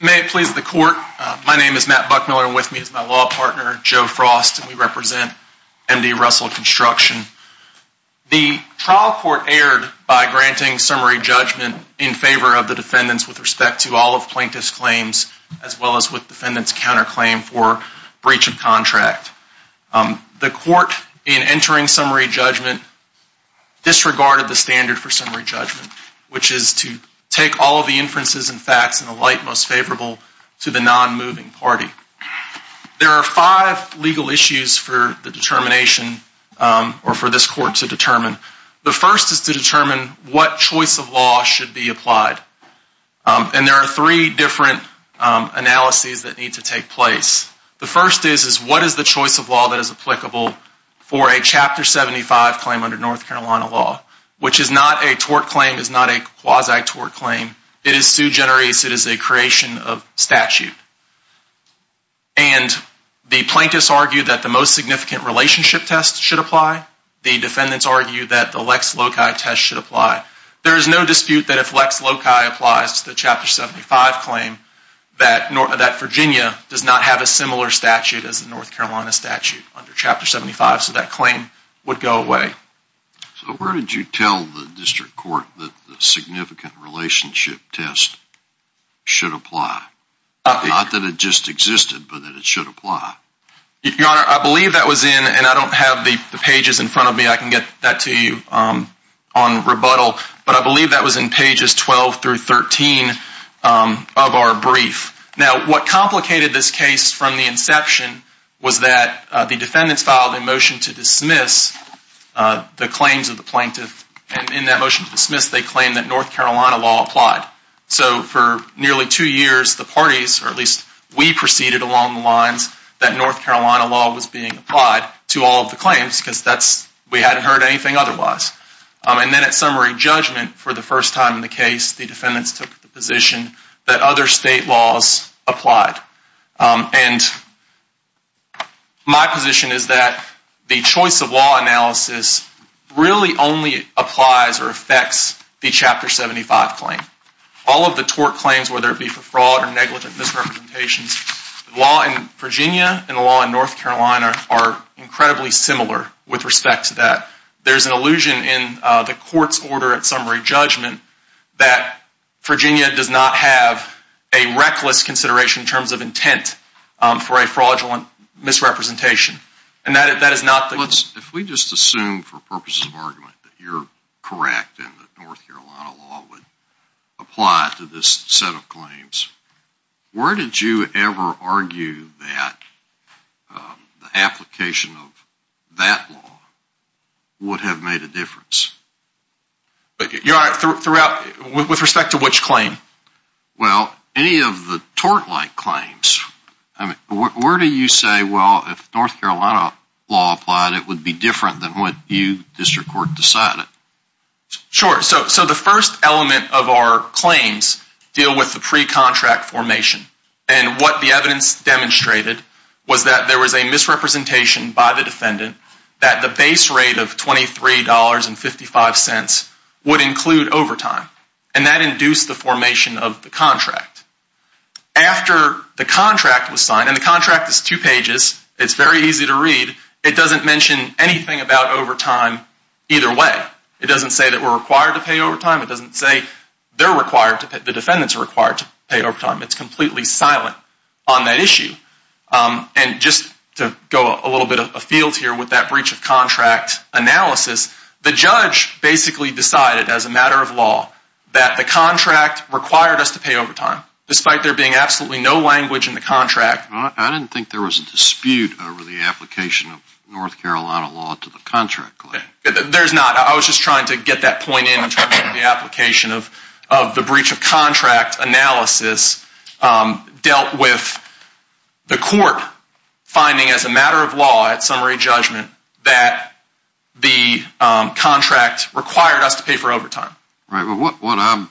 May it please the Court, my name is Matt Buckmiller and with me is my law partner, Joe Frost, and we represent M.D. Russell Construction. The trial court erred by granting summary judgment in favor of the defendants with respect to all of plaintiff's claims, as well as with defendants' counterclaim for breach of contract. The Court, in entering summary judgment, disregarded the standard for summary judgment, which is to take all of the inferences and facts in the light most favorable to the non-moving party. There are five legal issues for the determination, or for this Court to determine. The first is to determine what choice of law should be applied. And there are three different analyses that need to take place. The first is, is what is the choice of law that is applicable for a Chapter 75 claim under North Carolina law, which is not a tort claim, is not a quasi-tort claim. It is su generis, it is a creation of statute. And the plaintiffs argue that the most significant relationship test should apply. The defendants argue that the Lex Loci test should apply. There is no dispute that if Lex Loci applies to the Chapter 75 claim, that Virginia does not have a similar statute as the North Carolina statute under Chapter 75, so that claim would go away. So where did you tell the District Court that the significant relationship test should apply? Not that it just existed, but that it should apply. Your Honor, I believe that was in, and I don't have the pages in front of me, I can get that to you on rebuttal. But I believe that was in pages 12 through 13 of our brief. Now, what complicated this case from the inception was that the defendants filed a motion to dismiss the claims of the plaintiff. And in that motion to dismiss, they claimed that North Carolina law applied. So for nearly two years, the parties, or at least we, proceeded along the lines that North Carolina law was being applied to all of the claims, because we hadn't heard anything otherwise. And then at summary judgment, for the first time in the case, the defendants took the position that other state laws applied. And my position is that the choice of law analysis really only applies or affects the Chapter 75 claim. All of the tort claims, whether it be for fraud or negligent misrepresentations, the law in Virginia and the law in North Carolina are incredibly similar with respect to that. There's an illusion in the court's order at summary judgment that Virginia does not have a reckless consideration in terms of intent for a fraudulent misrepresentation. And that is not the case. With respect to which claim? Well, any of the tort-like claims. Where do you say, well, if North Carolina law applied, it would be different than what you, District Court, decided? Sure. So the first element of our claims deal with the pre-contract formation. And what the evidence demonstrated was that there was a misrepresentation by the defendant that the base rate of $23.55 would include overtime. And that induced the formation of the contract. After the contract was signed, and the contract is two pages, it's very easy to read, it doesn't mention anything about overtime either way. It doesn't say that we're required to pay overtime. It doesn't say they're required, the defendants are required to pay overtime. It's completely silent on that issue. And just to go a little bit afield here with that breach of contract analysis, the judge basically decided as a matter of law that the contract required us to pay overtime, despite there being absolutely no language in the contract. I didn't think there was a dispute over the application of North Carolina law to the contract claim. There's not. I was just trying to get that point in in terms of the application of the breach of contract analysis dealt with the court finding as a matter of law at summary judgment that the contract required us to pay for overtime. What I'm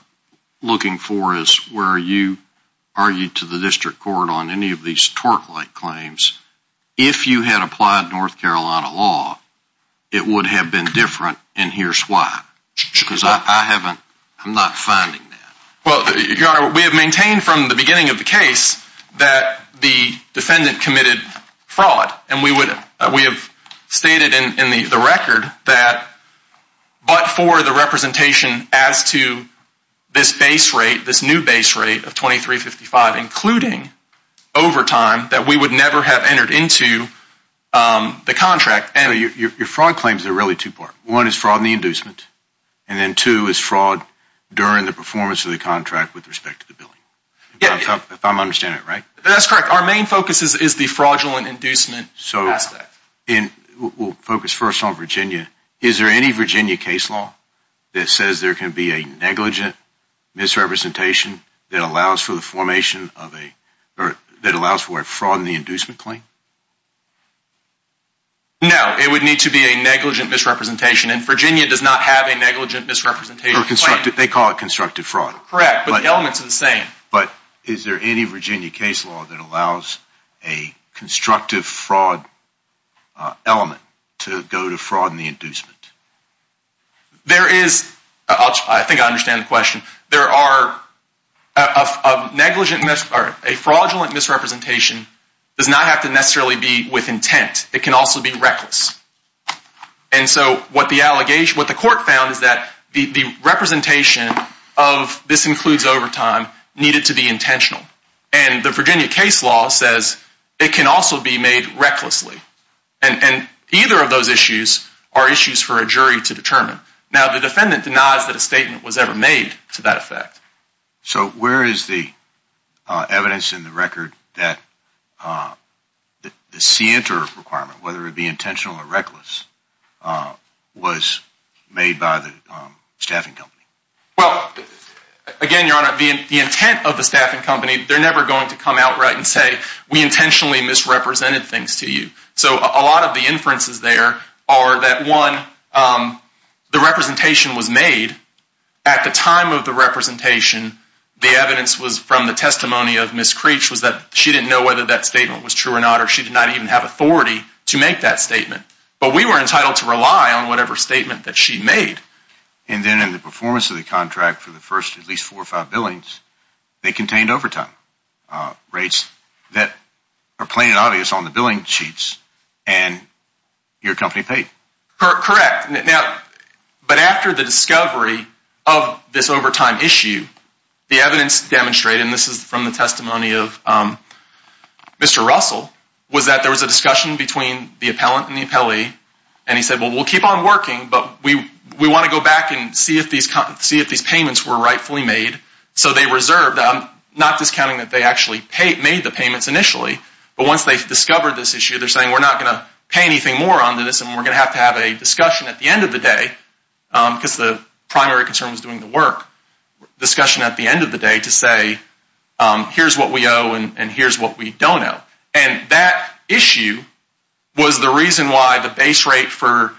looking for is where you argued to the District Court on any of these twerk-like claims, if you had applied North Carolina law, it would have been different, and here's why. Because I haven't, I'm not finding that. Well, Your Honor, we have maintained from the beginning of the case that the defendant committed fraud, and we have stated in the record that but for the representation as to this base rate, including overtime, that we would never have entered into the contract. Your fraud claims are really two-part. One is fraud in the inducement, and then two is fraud during the performance of the contract with respect to the billing. If I'm understanding it right? That's correct. Our main focus is the fraudulent inducement aspect. We'll focus first on Virginia. Is there any Virginia case law that says there can be a negligent misrepresentation that allows for the formation of a, that allows for a fraud in the inducement claim? No, it would need to be a negligent misrepresentation, and Virginia does not have a negligent misrepresentation claim. They call it constructive fraud. Correct, but the elements are the same. But is there any Virginia case law that allows a constructive fraud element to go to fraud in the inducement? There is. I think I understand the question. There are a fraudulent misrepresentation does not have to necessarily be with intent. It can also be reckless. And so what the court found is that the representation of this includes overtime needed to be intentional. And the Virginia case law says it can also be made recklessly. And either of those issues are issues for a jury to determine. Now, the defendant denies that a statement was ever made to that effect. So where is the evidence in the record that the C-INTER requirement, whether it be intentional or reckless, was made by the staffing company? Well, again, Your Honor, the intent of the staffing company, they're never going to come out right and say we intentionally misrepresented things to you. So a lot of the inferences there are that, one, the representation was made at the time of the representation. The evidence was from the testimony of Ms. Creech was that she didn't know whether that statement was true or not, or she did not even have authority to make that statement. But we were entitled to rely on whatever statement that she made. And then in the performance of the contract for the first at least four or five billings, they contained overtime rates that are plain and obvious on the billing sheets, and your company paid. Correct. Now, but after the discovery of this overtime issue, the evidence demonstrated, and this is from the testimony of Mr. Russell, was that there was a discussion between the appellant and the appellee, and he said, well, we'll keep on working, but we want to go back and see if these payments were rightfully made. So they reserved, not discounting that they actually made the payments initially, but once they discovered this issue, they're saying we're not going to pay anything more onto this and we're going to have to have a discussion at the end of the day, because the primary concern was doing the work, discussion at the end of the day to say here's what we owe and here's what we don't owe. And that issue was the reason why the base rate for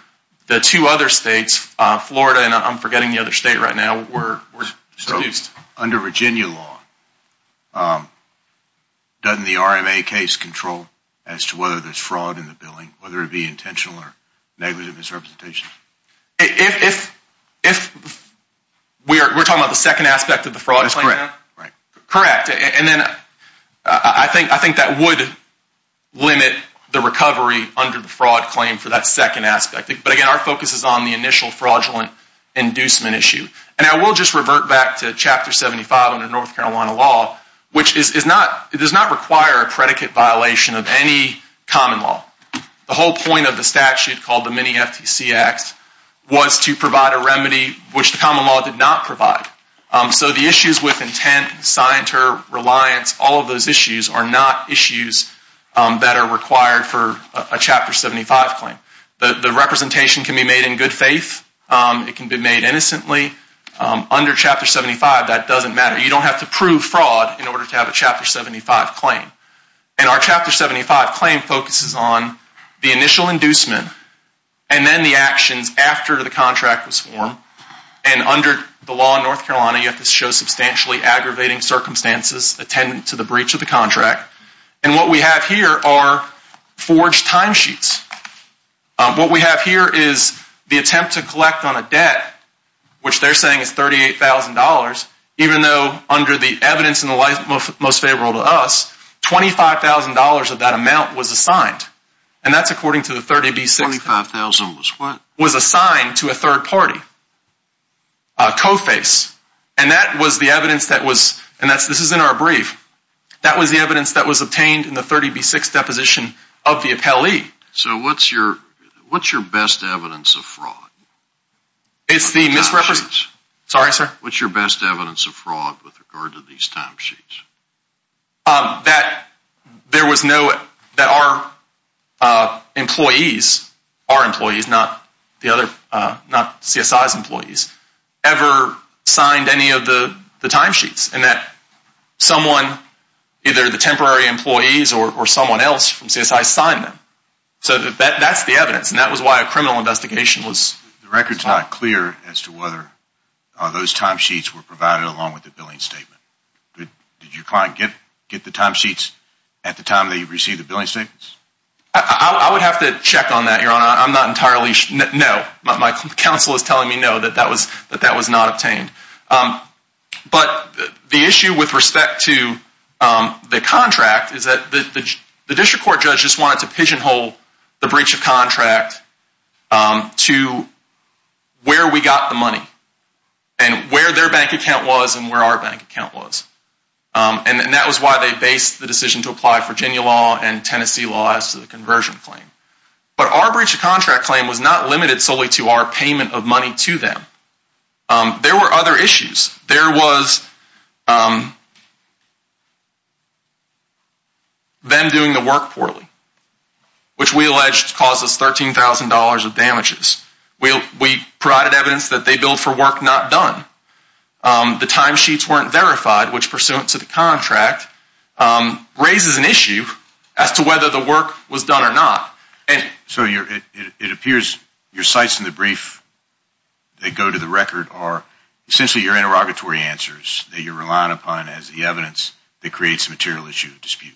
the two other states, Florida and I'm forgetting the other state right now, were reduced. So under Virginia law, doesn't the RMA case control as to whether there's fraud in the billing, whether it be intentional or negligent misrepresentation? If we're talking about the second aspect of the fraud claim? That's correct. Correct. And then I think that would limit the recovery under the fraud claim for that second aspect. But again, our focus is on the initial fraudulent inducement issue. And I will just revert back to Chapter 75 under North Carolina law, which does not require a predicate violation of any common law. The whole point of the statute called the Mini-FTC Act was to provide a remedy which the common law did not provide. So the issues with intent, scienter, reliance, all of those issues are not issues that are required for a Chapter 75 claim. The representation can be made in good faith. It can be made innocently. Under Chapter 75, that doesn't matter. You don't have to prove fraud in order to have a Chapter 75 claim. And our Chapter 75 claim focuses on the initial inducement and then the actions after the contract was formed. And under the law in North Carolina, you have to show substantially aggravating circumstances attendant to the breach of the contract. And what we have here are forged timesheets. What we have here is the attempt to collect on a debt, which they're saying is $38,000, even though under the evidence in the most favorable to us, $25,000 of that amount was assigned. And that's according to the 30B6. $25,000 was what? Was assigned to a third party, Co-Face. And that was the evidence that was, and this is in our brief, that was the evidence that was obtained in the 30B6 deposition of the appellee. So what's your best evidence of fraud? It's the misrepresentation. Sorry, sir? What's your best evidence of fraud with regard to these timesheets? That there was no, that our employees, our employees, not the other, not CSI's employees, ever signed any of the timesheets. And that someone, either the temporary employees or someone else from CSI signed them. So that's the evidence. And that was why a criminal investigation was. The record's not clear as to whether those timesheets were provided along with the billing statement. Did your client get the timesheets at the time they received the billing statements? I would have to check on that, Your Honor. I'm not entirely sure. No. My counsel is telling me no, that that was not obtained. But the issue with respect to the contract is that the district court judge just wanted to pigeonhole the breach of contract to where we got the money. And where their bank account was and where our bank account was. And that was why they based the decision to apply Virginia law and Tennessee law as to the conversion claim. But our breach of contract claim was not limited solely to our payment of money to them. There were other issues. There was them doing the work poorly, which we alleged causes $13,000 of damages. We provided evidence that they billed for work not done. The timesheets weren't verified, which pursuant to the contract, raises an issue as to whether the work was done or not. So it appears your sites in the brief that go to the record are essentially your interrogatory answers that you're relying upon as the evidence that creates a material issue of dispute.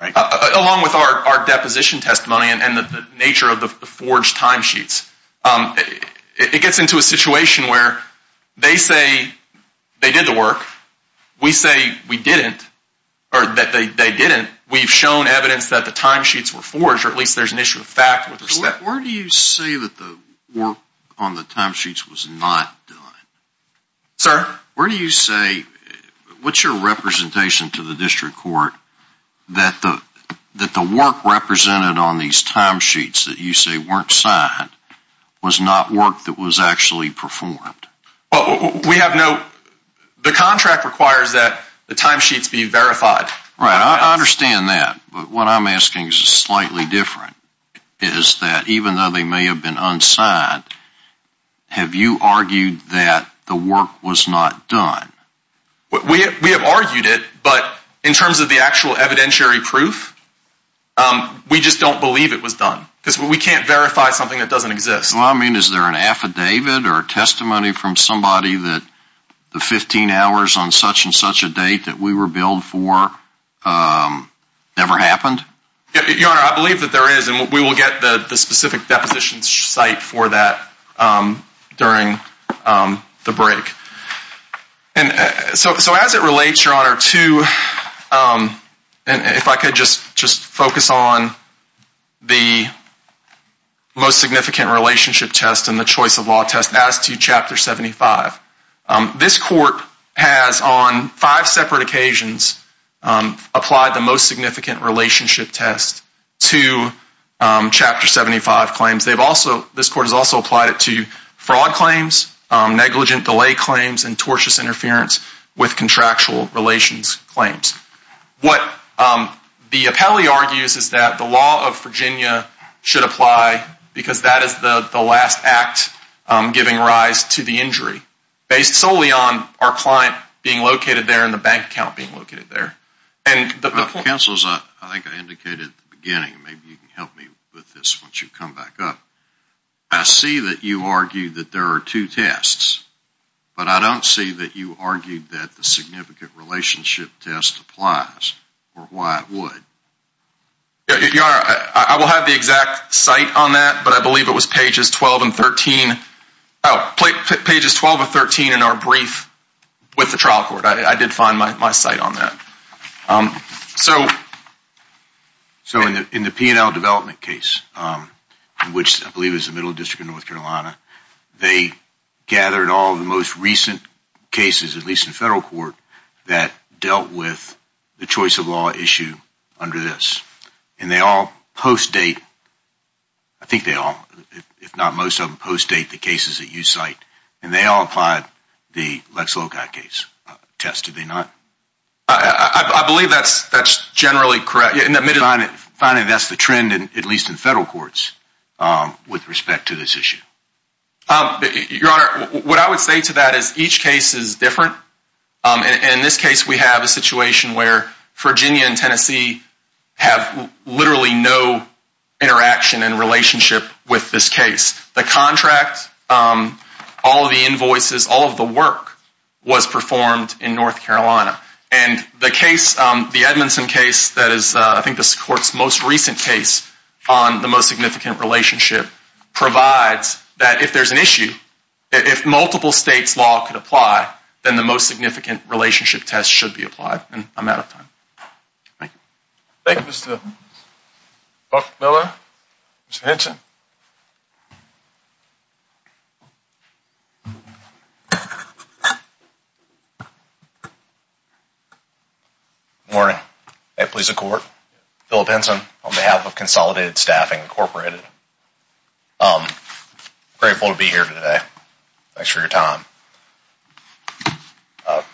Right? Along with our deposition testimony and the nature of the forged timesheets. It gets into a situation where they say they did the work. We say we didn't. Or that they didn't. And we've shown evidence that the timesheets were forged, or at least there's an issue of fact. Where do you say that the work on the timesheets was not done? Sir? Where do you say, what's your representation to the district court that the work represented on these timesheets that you say weren't signed was not work that was actually performed? We have no, the contract requires that the timesheets be verified. Right. I understand that. But what I'm asking is slightly different. Is that even though they may have been unsigned, have you argued that the work was not done? We have argued it. But in terms of the actual evidentiary proof, we just don't believe it was done. Because we can't verify something that doesn't exist. Well, I mean, is there an affidavit or testimony from somebody that the 15 hours on such and such a date that we were billed for never happened? Your Honor, I believe that there is. And we will get the specific deposition site for that during the break. So as it relates, Your Honor, to, if I could just focus on the most significant relationship test and the choice of law test as to Chapter 75. This Court has on five separate occasions applied the most significant relationship test to Chapter 75 claims. They've also, this Court has also applied it to fraud claims, negligent delay claims, and tortious interference with contractual relations claims. What the appellee argues is that the law of Virginia should apply because that is the last act giving rise to the injury, based solely on our client being located there and the bank account being located there. Counsel, I think I indicated at the beginning, maybe you can help me with this once you come back up. I see that you argue that there are two tests. But I don't see that you argued that the significant relationship test applies or why it would. Your Honor, I will have the exact site on that, but I believe it was pages 12 and 13, pages 12 and 13 in our brief with the trial court. I did find my site on that. So in the P&L development case, which I believe is the Middle District of North Carolina, they gathered all the most recent cases, at least in federal court, that dealt with the choice of law issue under this. And they all post-date, I think they all, if not most of them, post-date the cases that you cite. And they all applied the Lex Loci case test, did they not? I believe that's generally correct. Finally, that's the trend, at least in federal courts, with respect to this issue. Your Honor, what I would say to that is each case is different. In this case, we have a situation where Virginia and Tennessee have literally no interaction and relationship with this case. The contract, all of the invoices, all of the work was performed in North Carolina. And the case, the Edmondson case that is I think the court's most recent case on the most significant relationship, provides that if there's an issue, if multiple states' law could apply, then the most significant relationship test should be applied. And I'm out of time. Thank you. Thank you, Mr. Buckmiller. Your Honor, Mr. Henson. Good morning. May it please the court. Philip Henson on behalf of Consolidated Staffing, Incorporated. I'm grateful to be here today. Thanks for your time.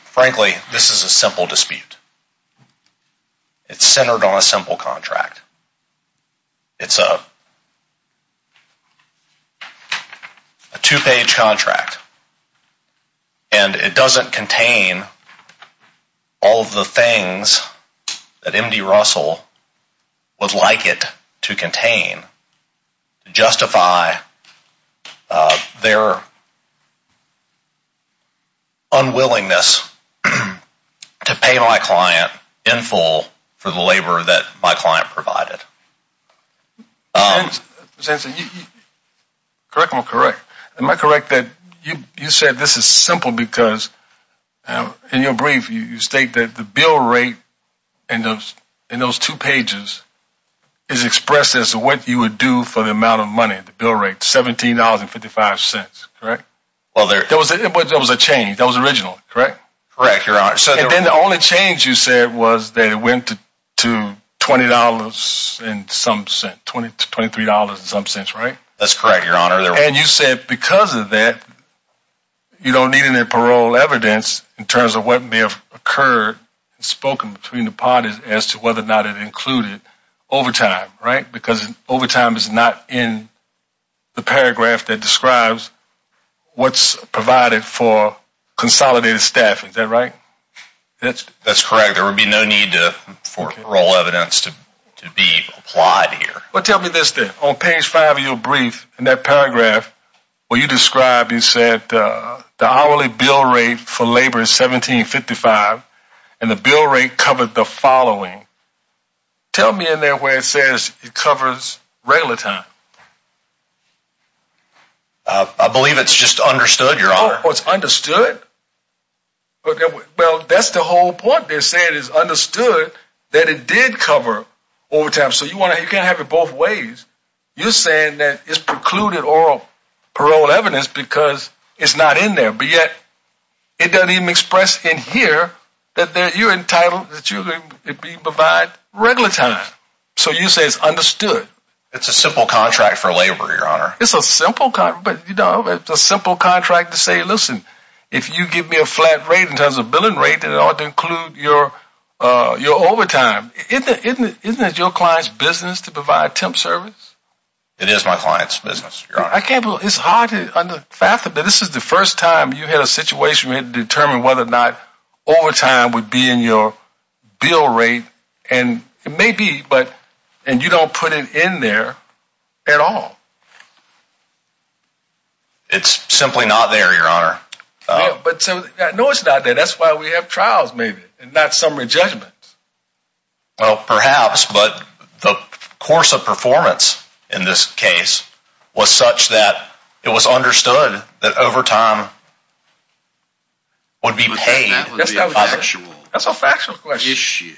Frankly, this is a simple dispute. It's centered on a simple contract. It's a two-page contract. And it doesn't contain all of the things that M.D. Russell would like it to contain to justify their unwillingness to pay my client in full for the labor that my client provided. Mr. Henson, am I correct? Am I correct that you said this is simple because in your brief, you state that the bill rate in those two pages is expressed as what you would do for the amount of money, the bill rate, $17.55, correct? There was a change. That was original, correct? Correct, Your Honor. And then the only change you said was that it went to $20 in some sense, $23 in some sense, right? That's correct, Your Honor. And you said because of that, you don't need any parole evidence in terms of what may have occurred and spoken between the parties as to whether or not it included overtime, right, because overtime is not in the paragraph that describes what's provided for consolidated staff. Is that right? That's correct. There would be no need for parole evidence to be applied here. Well, tell me this then. On page five of your brief, in that paragraph where you describe, you said the hourly bill rate for labor is $17.55, and the bill rate covered the following. Tell me in there where it says it covers regular time. I believe it's just understood, Your Honor. Oh, it's understood? Well, that's the whole point. They're saying it's understood that it did cover overtime, so you can't have it both ways. You're saying that it's precluded oral parole evidence because it's not in there, but yet it doesn't even express in here that you're entitled to provide regular time. So you say it's understood? It's a simple contract for labor, Your Honor. It's a simple contract to say, listen, if you give me a flat rate in terms of billing rate, it ought to include your overtime. Isn't it your client's business to provide temp service? It is my client's business, Your Honor. I can't believe it. It's hard to understand. This is the first time you had a situation where you had to determine whether or not overtime would be in your bill rate, and it may be, but you don't put it in there at all. It's simply not there, Your Honor. No, it's not there. That's why we have trials, maybe, and not summary judgments. Well, perhaps, but the course of performance in this case was such that it was understood that overtime would be paid. That's a factual question. That's a factual question.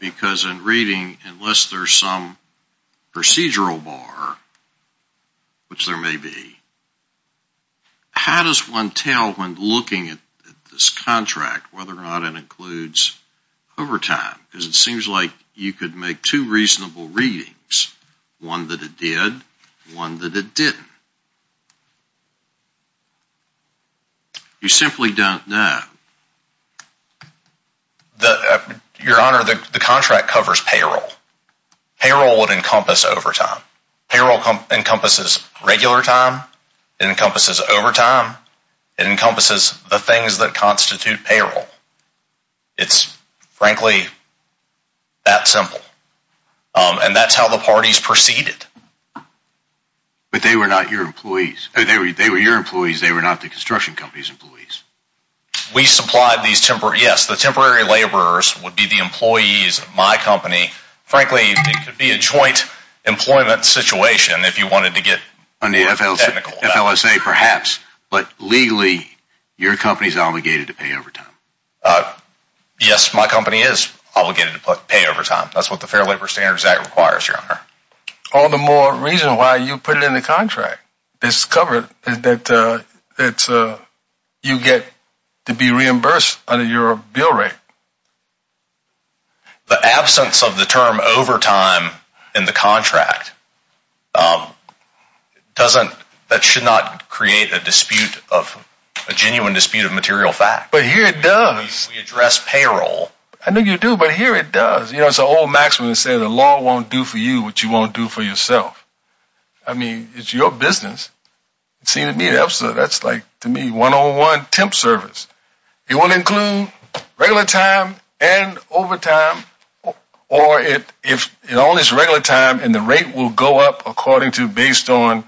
Because in reading, unless there's some procedural bar, which there may be, how does one tell when looking at this contract whether or not it includes overtime? Because it seems like you could make two reasonable readings, one that it did, one that it didn't. You simply don't know. Your Honor, the contract covers payroll. Payroll would encompass overtime. Payroll encompasses regular time. It encompasses overtime. It encompasses the things that constitute payroll. It's, frankly, that simple. And that's how the parties proceeded. But they were not your employees. They were your employees. They were not the construction company's employees. We supplied these temporary, yes, the temporary laborers would be the employees of my company. Frankly, it could be a joint employment situation if you wanted to get more technical. On the FLSA, perhaps. But legally, your company's obligated to pay overtime. Yes, my company is obligated to pay overtime. That's what the Fair Labor Standards Act requires, Your Honor. All the more reason why you put it in the contract. It's covered. It's that you get to be reimbursed under your bill rate. The absence of the term overtime in the contract doesn't, that should not create a dispute of, a genuine dispute of material facts. But here it does. We address payroll. I know you do, but here it does. You know, it's an old maxim that says the law won't do for you what you won't do for yourself. I mean, it's your business. It seems to me, absolutely, that's like, to me, one-on-one temp service. It will include regular time and overtime, or if it only is regular time and the rate will go up according to, based on,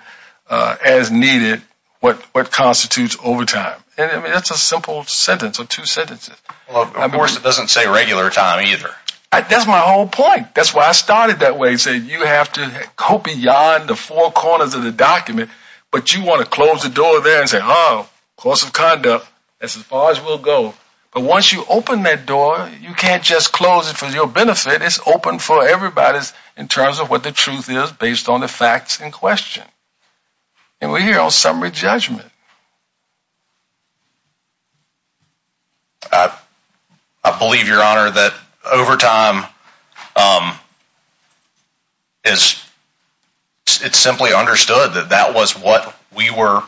as needed, what constitutes overtime. I mean, that's a simple sentence or two sentences. Well, of course, it doesn't say regular time either. That's my whole point. That's why I started that way. You have to go beyond the four corners of the document, but you want to close the door there and say, oh, course of conduct, that's as far as we'll go. But once you open that door, you can't just close it for your benefit. It's open for everybody in terms of what the truth is based on the facts in question. And we're here on summary judgment. I believe, Your Honor, that overtime is, it's simply understood that that was what we were,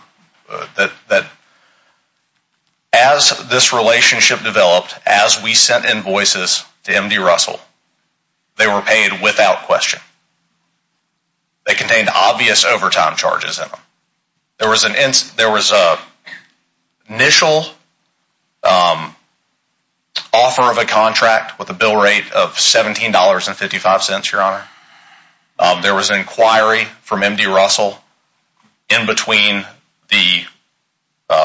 that as this relationship developed, as we sent invoices to M.D. Russell, they were paid without question. They contained obvious overtime charges in them. There was an initial offer of a contract with a bill rate of $17.55, Your Honor. There was an inquiry from M.D. Russell in between the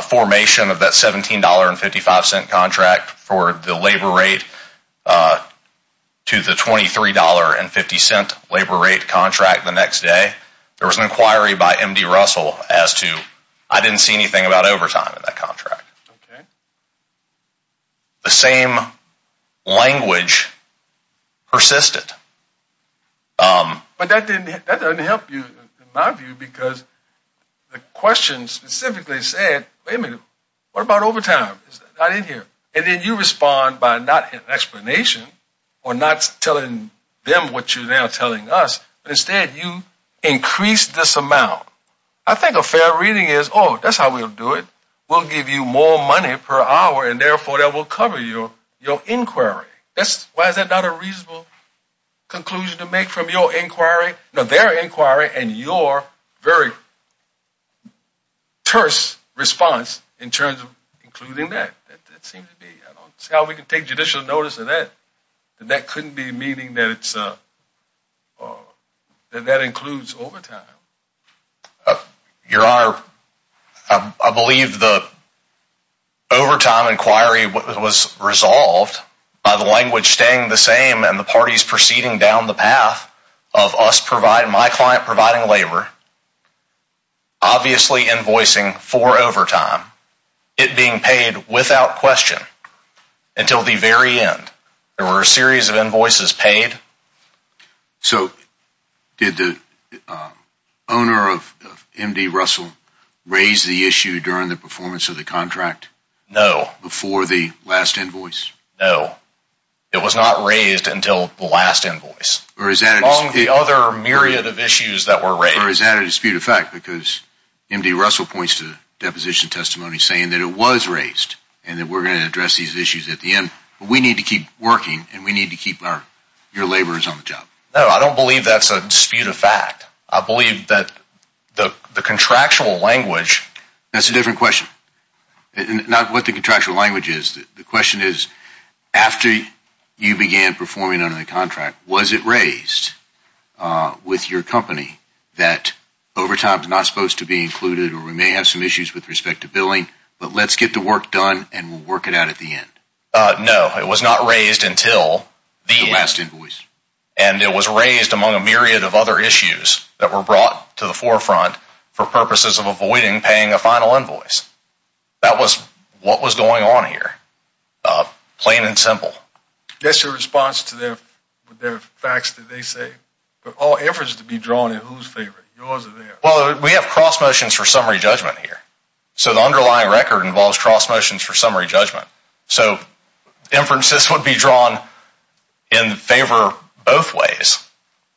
formation of that $17.55 contract for the labor rate to the $23.50 labor rate contract the next day. There was an inquiry by M.D. Russell as to, I didn't see anything about overtime in that contract. The same language persisted. But that doesn't help you, in my view, because the question specifically said, wait a minute, what about overtime? It's not in here. And then you respond by not explanation or not telling them what you're now telling us. Instead, you increase this amount. I think a fair reading is, oh, that's how we'll do it. We'll give you more money per hour, and therefore that will cover your inquiry. Why is that not a reasonable conclusion to make from your inquiry? No, their inquiry and your very terse response in terms of including that, that seems to be, I don't see how we can take judicial notice of that. And that couldn't be meaning that it's, that that includes overtime. Your Honor, I believe the overtime inquiry was resolved by the language staying the same and the parties proceeding down the path of us providing, my client providing labor, obviously invoicing for overtime, it being paid without question until the very end. There were a series of invoices paid. So did the owner of M.D. Russell raise the issue during the performance of the contract? No. Before the last invoice? No. It was not raised until the last invoice. Or is that a dispute? Among the other myriad of issues that were raised. Or is that a dispute of fact, because M.D. Russell points to deposition testimony saying that it was raised and that we're going to address these issues at the end. We need to keep working and we need to keep our, your laborers on the job. No, I don't believe that's a dispute of fact. I believe that the contractual language. That's a different question. Not what the contractual language is. The question is, after you began performing under the contract, was it raised with your company that overtime is not supposed to be included or we may have some issues with respect to billing, but let's get the work done and we'll work it out at the end. No. It was not raised until the last invoice. And it was raised among a myriad of other issues that were brought to the forefront for purposes of avoiding paying a final invoice. That was what was going on here. Plain and simple. That's your response to their facts that they say? All efforts to be drawn in whose favor? Yours or theirs? Well, we have cross motions for summary judgment here. So the underlying record involves cross motions for summary judgment. So inferences would be drawn in favor both ways.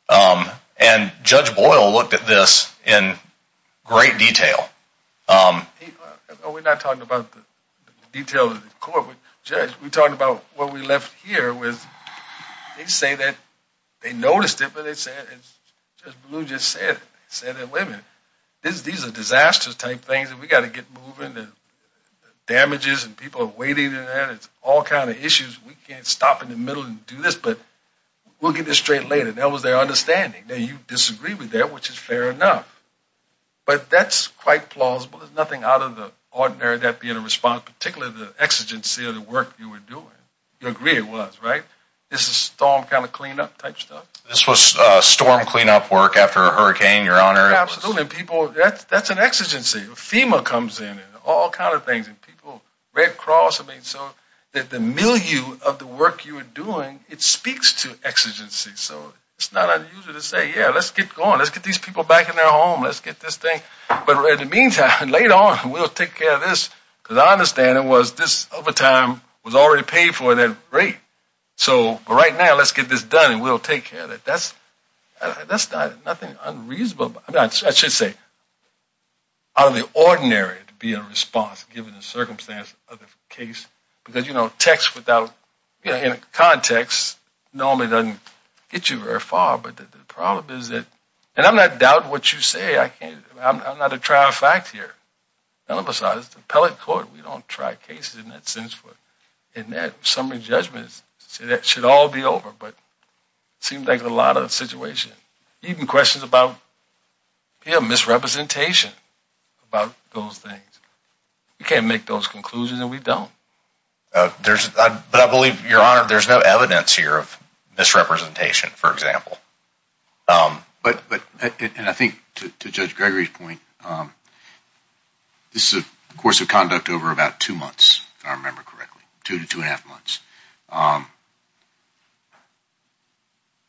And Judge Boyle looked at this in great detail. We're not talking about the details of the court. Judge, we're talking about what we left here. They say that they noticed it, but Judge Ballou just said it. These are disasters type things and we've got to get moving. Damages and people are waiting. It's all kind of issues. We can't stop in the middle and do this, but we'll get this straight later. That was their understanding. Now you disagree with that, which is fair enough. But that's quite plausible. There's nothing out of the ordinary of that being a response, particularly the exigency of the work you were doing. You agree it was, right? This is storm kind of cleanup type stuff? This was storm cleanup work after a hurricane, Your Honor. Absolutely. That's an exigency. FEMA comes in and all kind of things and people, Red Cross. I mean, so the milieu of the work you were doing, it speaks to exigency. So it's not unusual to say, yeah, let's get going. Let's get these people back in their home. Let's get this thing. But in the meantime, later on, we'll take care of this because our understanding was this overtime was already paid for at that rate. So right now, let's get this done and we'll take care of it. That's nothing unreasonable. I mean, I should say out of the ordinary to be in response given the circumstance of the case. Because, you know, text without context normally doesn't get you very far. But the problem is that – and I'm not doubting what you say. I'm not a trial fact here. None of us are. This is an appellate court. We don't try cases in that sense. In that summary judgment, that should all be over. But it seems like a lot of the situation. Even questions about, you know, misrepresentation about those things. We can't make those conclusions and we don't. But I believe, Your Honor, there's no evidence here of misrepresentation, for example. But – and I think to Judge Gregory's point, this is a course of conduct over about two months, if I remember correctly. Two to two and a half months.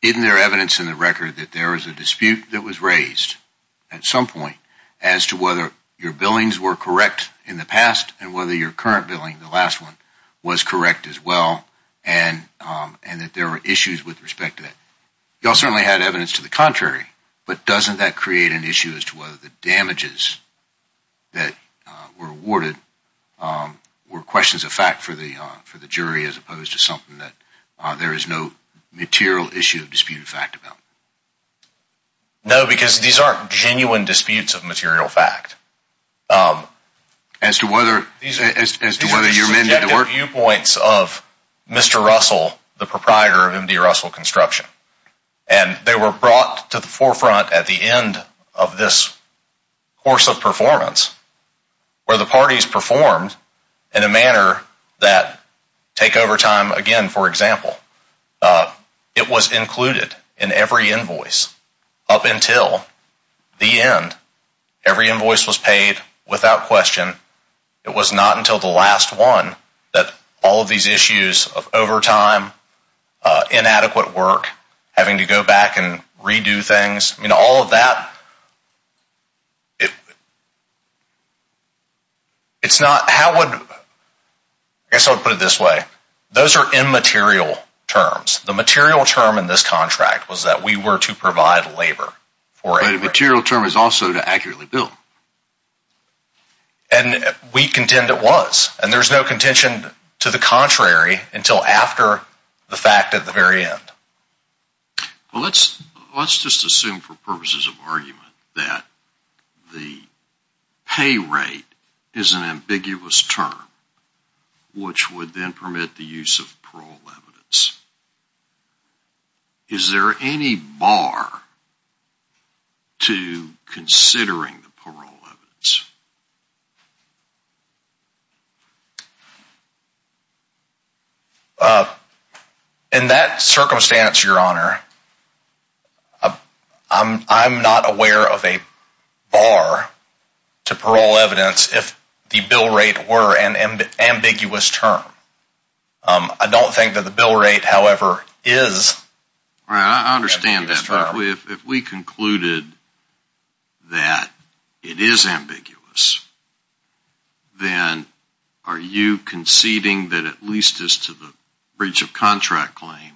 Isn't there evidence in the record that there is a dispute that was raised at some point as to whether your billings were correct in the past and whether your current billing, the last one, was correct as well and that there were issues with respect to that? You all certainly had evidence to the contrary. But doesn't that create an issue as to whether the damages that were awarded were questions of fact for the jury as a whole? As opposed to something that there is no material issue of disputed fact about? No, because these aren't genuine disputes of material fact. As to whether your men did the work? These are subjective viewpoints of Mr. Russell, the proprietor of M.D. Russell Construction. And they were brought to the forefront at the end of this course of performance where the parties performed in a manner that – take overtime again, for example. It was included in every invoice up until the end. Every invoice was paid without question. It was not until the last one that all of these issues of overtime, inadequate work, having to go back and redo things, all of that – it's not – how would – I guess I would put it this way. Those are immaterial terms. The material term in this contract was that we were to provide labor. But a material term is also to accurately bill. And we contend it was. And there is no contention to the contrary until after the fact at the very end. Well, let's just assume for purposes of argument that the pay rate is an ambiguous term, which would then permit the use of parole evidence. Is there any bar to considering the parole evidence? In that circumstance, Your Honor, I'm not aware of a bar to parole evidence if the bill rate were an ambiguous term. I don't think that the bill rate, however, is. I understand that. If we concluded that it is ambiguous, then are you conceding that at least as to the breach of contract claim,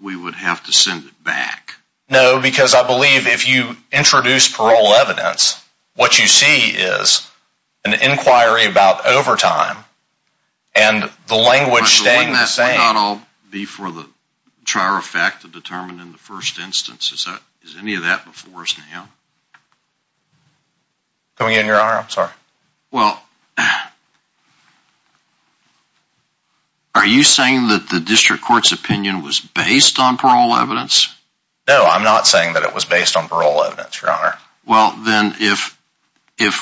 we would have to send it back? No, because I believe if you introduce parole evidence, what you see is an inquiry about overtime and the language staying the same. Would that not all be for the trier of fact to determine in the first instance? Is any of that before us now? Come again, Your Honor? I'm sorry. Well, are you saying that the district court's opinion was based on parole evidence? No, I'm not saying that it was based on parole evidence, Your Honor. Well, then if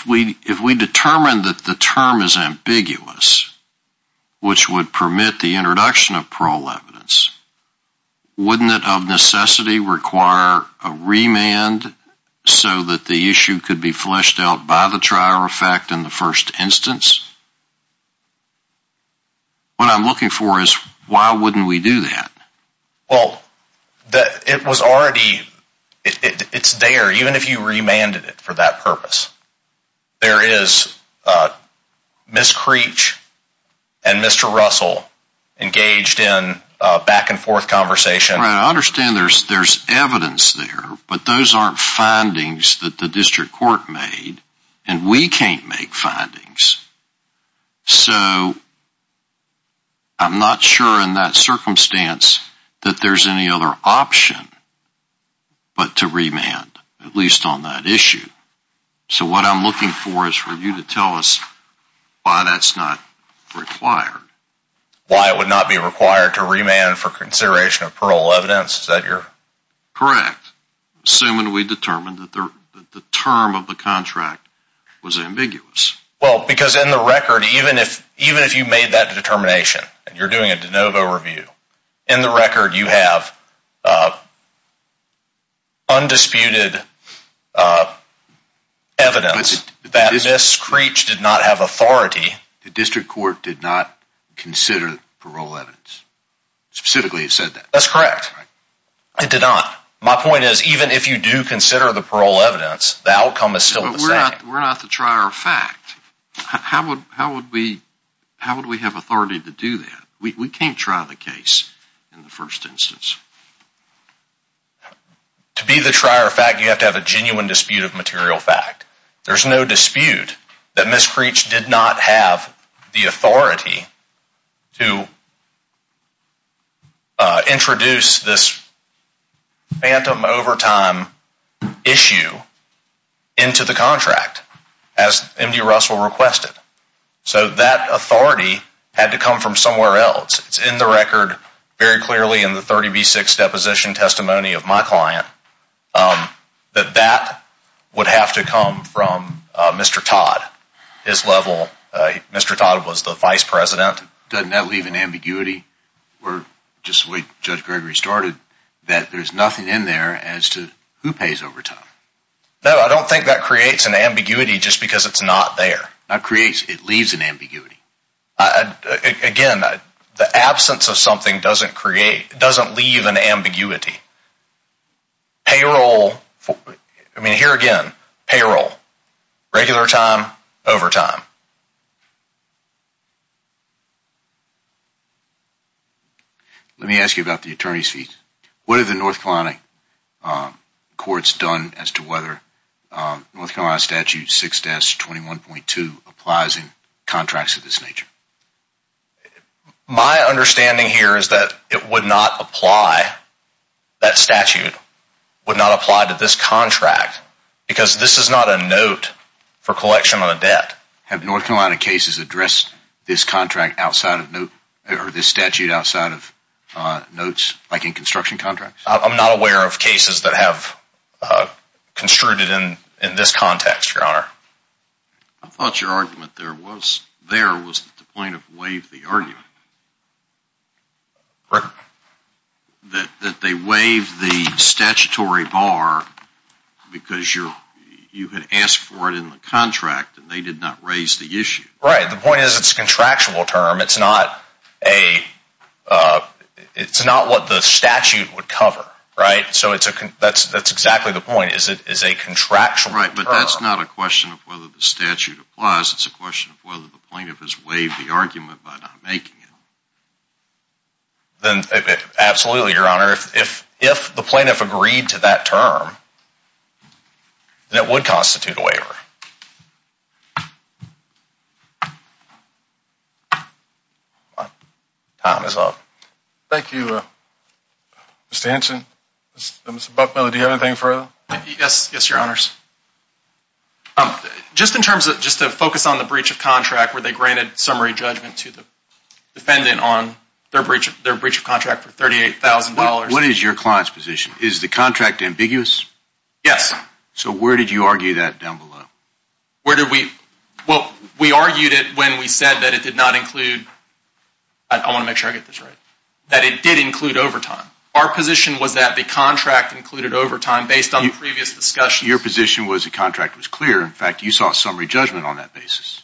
we determine that the term is ambiguous, which would permit the introduction of parole evidence, wouldn't it of necessity require a remand so that the issue could be fleshed out by the trier of fact in the first instance? What I'm looking for is why wouldn't we do that? Well, it's there, even if you remanded it for that purpose. There is Ms. Creech and Mr. Russell engaged in back and forth conversation. I understand there's evidence there, but those aren't findings that the district court made, and we can't make findings. So I'm not sure in that circumstance that there's any other option but to remand, at least on that issue. So what I'm looking for is for you to tell us why that's not required. Why it would not be required to remand for consideration of parole evidence? Correct. Assuming we determined that the term of the contract was ambiguous. Well, because in the record, even if you made that determination, and you're doing a de novo review, in the record you have undisputed evidence that Ms. Creech did not have authority. The district court did not consider parole evidence. Specifically, it said that. That's correct. It did not. My point is, even if you do consider the parole evidence, the outcome is still the same. But we're not the trier of fact. How would we have authority to do that? We can't try the case in the first instance. To be the trier of fact, you have to have a genuine dispute of material fact. There's no dispute that Ms. Creech did not have the authority to introduce this phantom overtime issue into the contract, as MD Russell requested. So that authority had to come from somewhere else. It's in the record, very clearly in the 30B6 deposition testimony of my client, that that would have to come from Mr. Todd. Mr. Todd was the vice president. Doesn't that leave an ambiguity? Just the way Judge Gregory started, that there's nothing in there as to who pays overtime. No, I don't think that creates an ambiguity just because it's not there. It leaves an ambiguity. Again, the absence of something doesn't leave an ambiguity. Here again, payroll, regular time, overtime. Let me ask you about the attorney's fees. What have the North Carolina courts done as to whether North Carolina Statute 6-21.2 applies in contracts of this nature? My understanding here is that it would not apply, that statute would not apply to this contract because this is not a note for collection of a debt. Have North Carolina cases addressed this statute outside of notes, like in construction contracts? I'm not aware of cases that have construed it in this context, Your Honor. I thought your argument there was that the plaintiff waived the argument. Correct. That they waived the statutory bar because you had asked for it in the contract and they did not raise the issue. Right, the point is it's a contractual term. It's not what the statute would cover. Right? So that's exactly the point. It's a contractual term. Right, but that's not a question of whether the statute applies. It's a question of whether the plaintiff has waived the argument by not making it. Absolutely, Your Honor. If the plaintiff agreed to that term, then it would constitute a waiver. Time is up. Thank you, Mr. Hanson. Mr. Buckmiller, do you have anything further? Yes, Your Honors. Just to focus on the breach of contract where they granted summary judgment to the defendant on their breach of contract for $38,000. What is your client's position? Is the contract ambiguous? Yes. So where did you argue that down below? Well, we argued it when we said that it did not include, I want to make sure I get this right, that it did include overtime. Our position was that the contract included overtime based on previous discussions. But your position was the contract was clear. In fact, you saw summary judgment on that basis.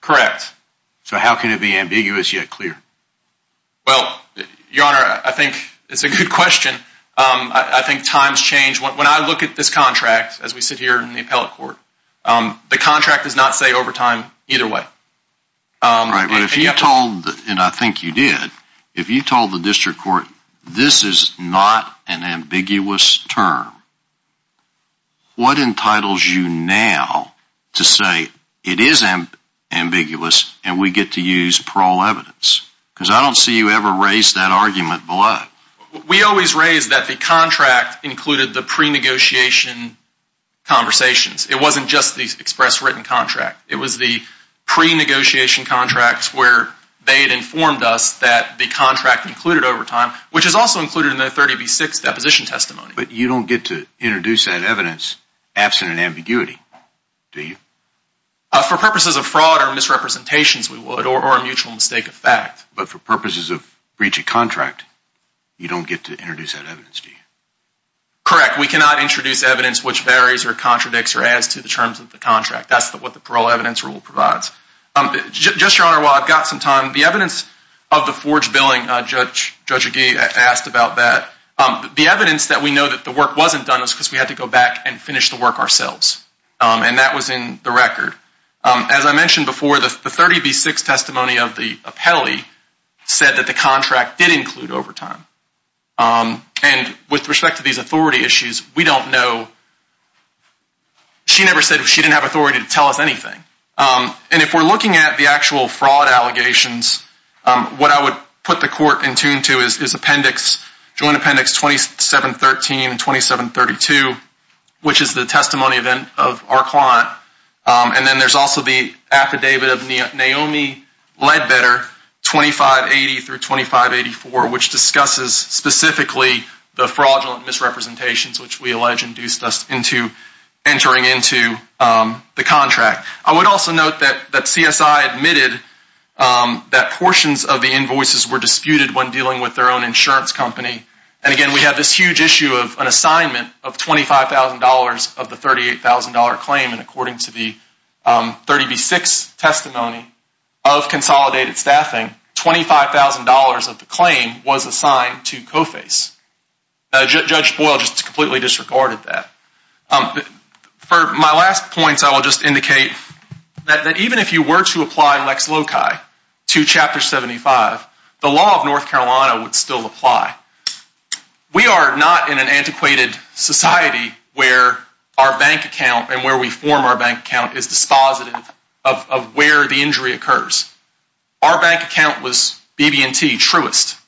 Correct. So how can it be ambiguous yet clear? Well, Your Honor, I think it's a good question. I think times change. When I look at this contract, as we sit here in the appellate court, the contract does not say overtime either way. Right, but if you told, and I think you did, if you told the district court this is not an ambiguous term, what entitles you now to say it is ambiguous and we get to use parole evidence? Because I don't see you ever raise that argument below. We always raise that the contract included the pre-negotiation conversations. It wasn't just the express written contract. It was the pre-negotiation contracts where they had informed us that the contract included overtime, which is also included in the 30B6 deposition testimony. But you don't get to introduce that evidence absent an ambiguity, do you? For purposes of fraud or misrepresentations, we would, or a mutual mistake of fact. But for purposes of breach of contract, you don't get to introduce that evidence, do you? Correct. We cannot introduce evidence which varies or contradicts or adds to the terms of the contract. That's what the parole evidence rule provides. Just, Your Honor, while I've got some time, the evidence of the forged billing, Judge Agee asked about that. The evidence that we know that the work wasn't done was because we had to go back and finish the work ourselves. And that was in the record. As I mentioned before, the 30B6 testimony of the appellee said that the contract did include overtime. And with respect to these authority issues, we don't know. She never said she didn't have authority to tell us anything. And if we're looking at the actual fraud allegations, what I would put the court in tune to is appendix, Joint Appendix 2713 and 2732, which is the testimony of our client. And then there's also the affidavit of Naomi Ledbetter, 2580 through 2584, which discusses specifically the fraudulent misrepresentations which we allege induced us into entering into the contract. I would also note that CSI admitted that portions of the invoices were disputed when dealing with their own insurance company. And, again, we have this huge issue of an assignment of $25,000 of the $38,000 claim. And according to the 30B6 testimony of consolidated staffing, $25,000 of the claim was assigned to CoFACE. Judge Boyle just completely disregarded that. For my last points, I will just indicate that even if you were to apply Lex Loci to Chapter 75, the law of North Carolina would still apply. We are not in an antiquated society where our bank account and where we form our bank account is dispositive of where the injury occurs. Our bank account was BB&T, Truist.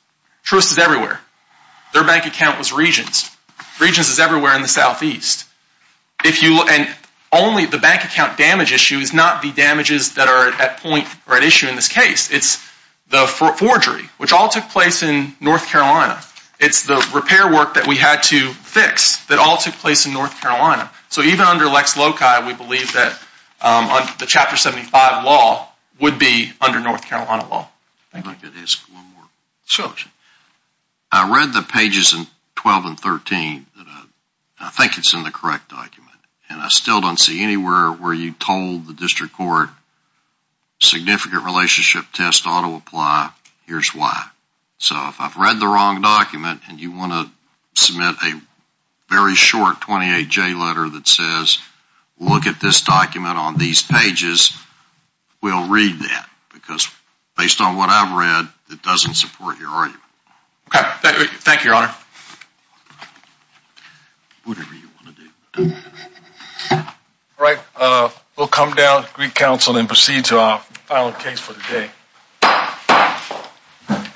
Truist is everywhere. Their bank account was Regence. Regence is everywhere in the southeast. And only the bank account damage issue is not the damages that are at point or at issue in this case. It's the forgery, which all took place in North Carolina. It's the repair work that we had to fix that all took place in North Carolina. So even under Lex Loci, we believe that the Chapter 75 law would be under North Carolina law. I'd like to ask one more question. Sure. I read the pages in 12 and 13. I think it's in the correct document. And I still don't see anywhere where you told the district court significant relationship test ought to apply. Here's why. So if I've read the wrong document and you want to submit a very short 28J letter that says look at this document on these pages, we'll read that. Because based on what I've read, it doesn't support your argument. Okay. Thank you, Your Honor. Whatever you want to do. All right. We'll come down to Greek Council and proceed to our final case for the day.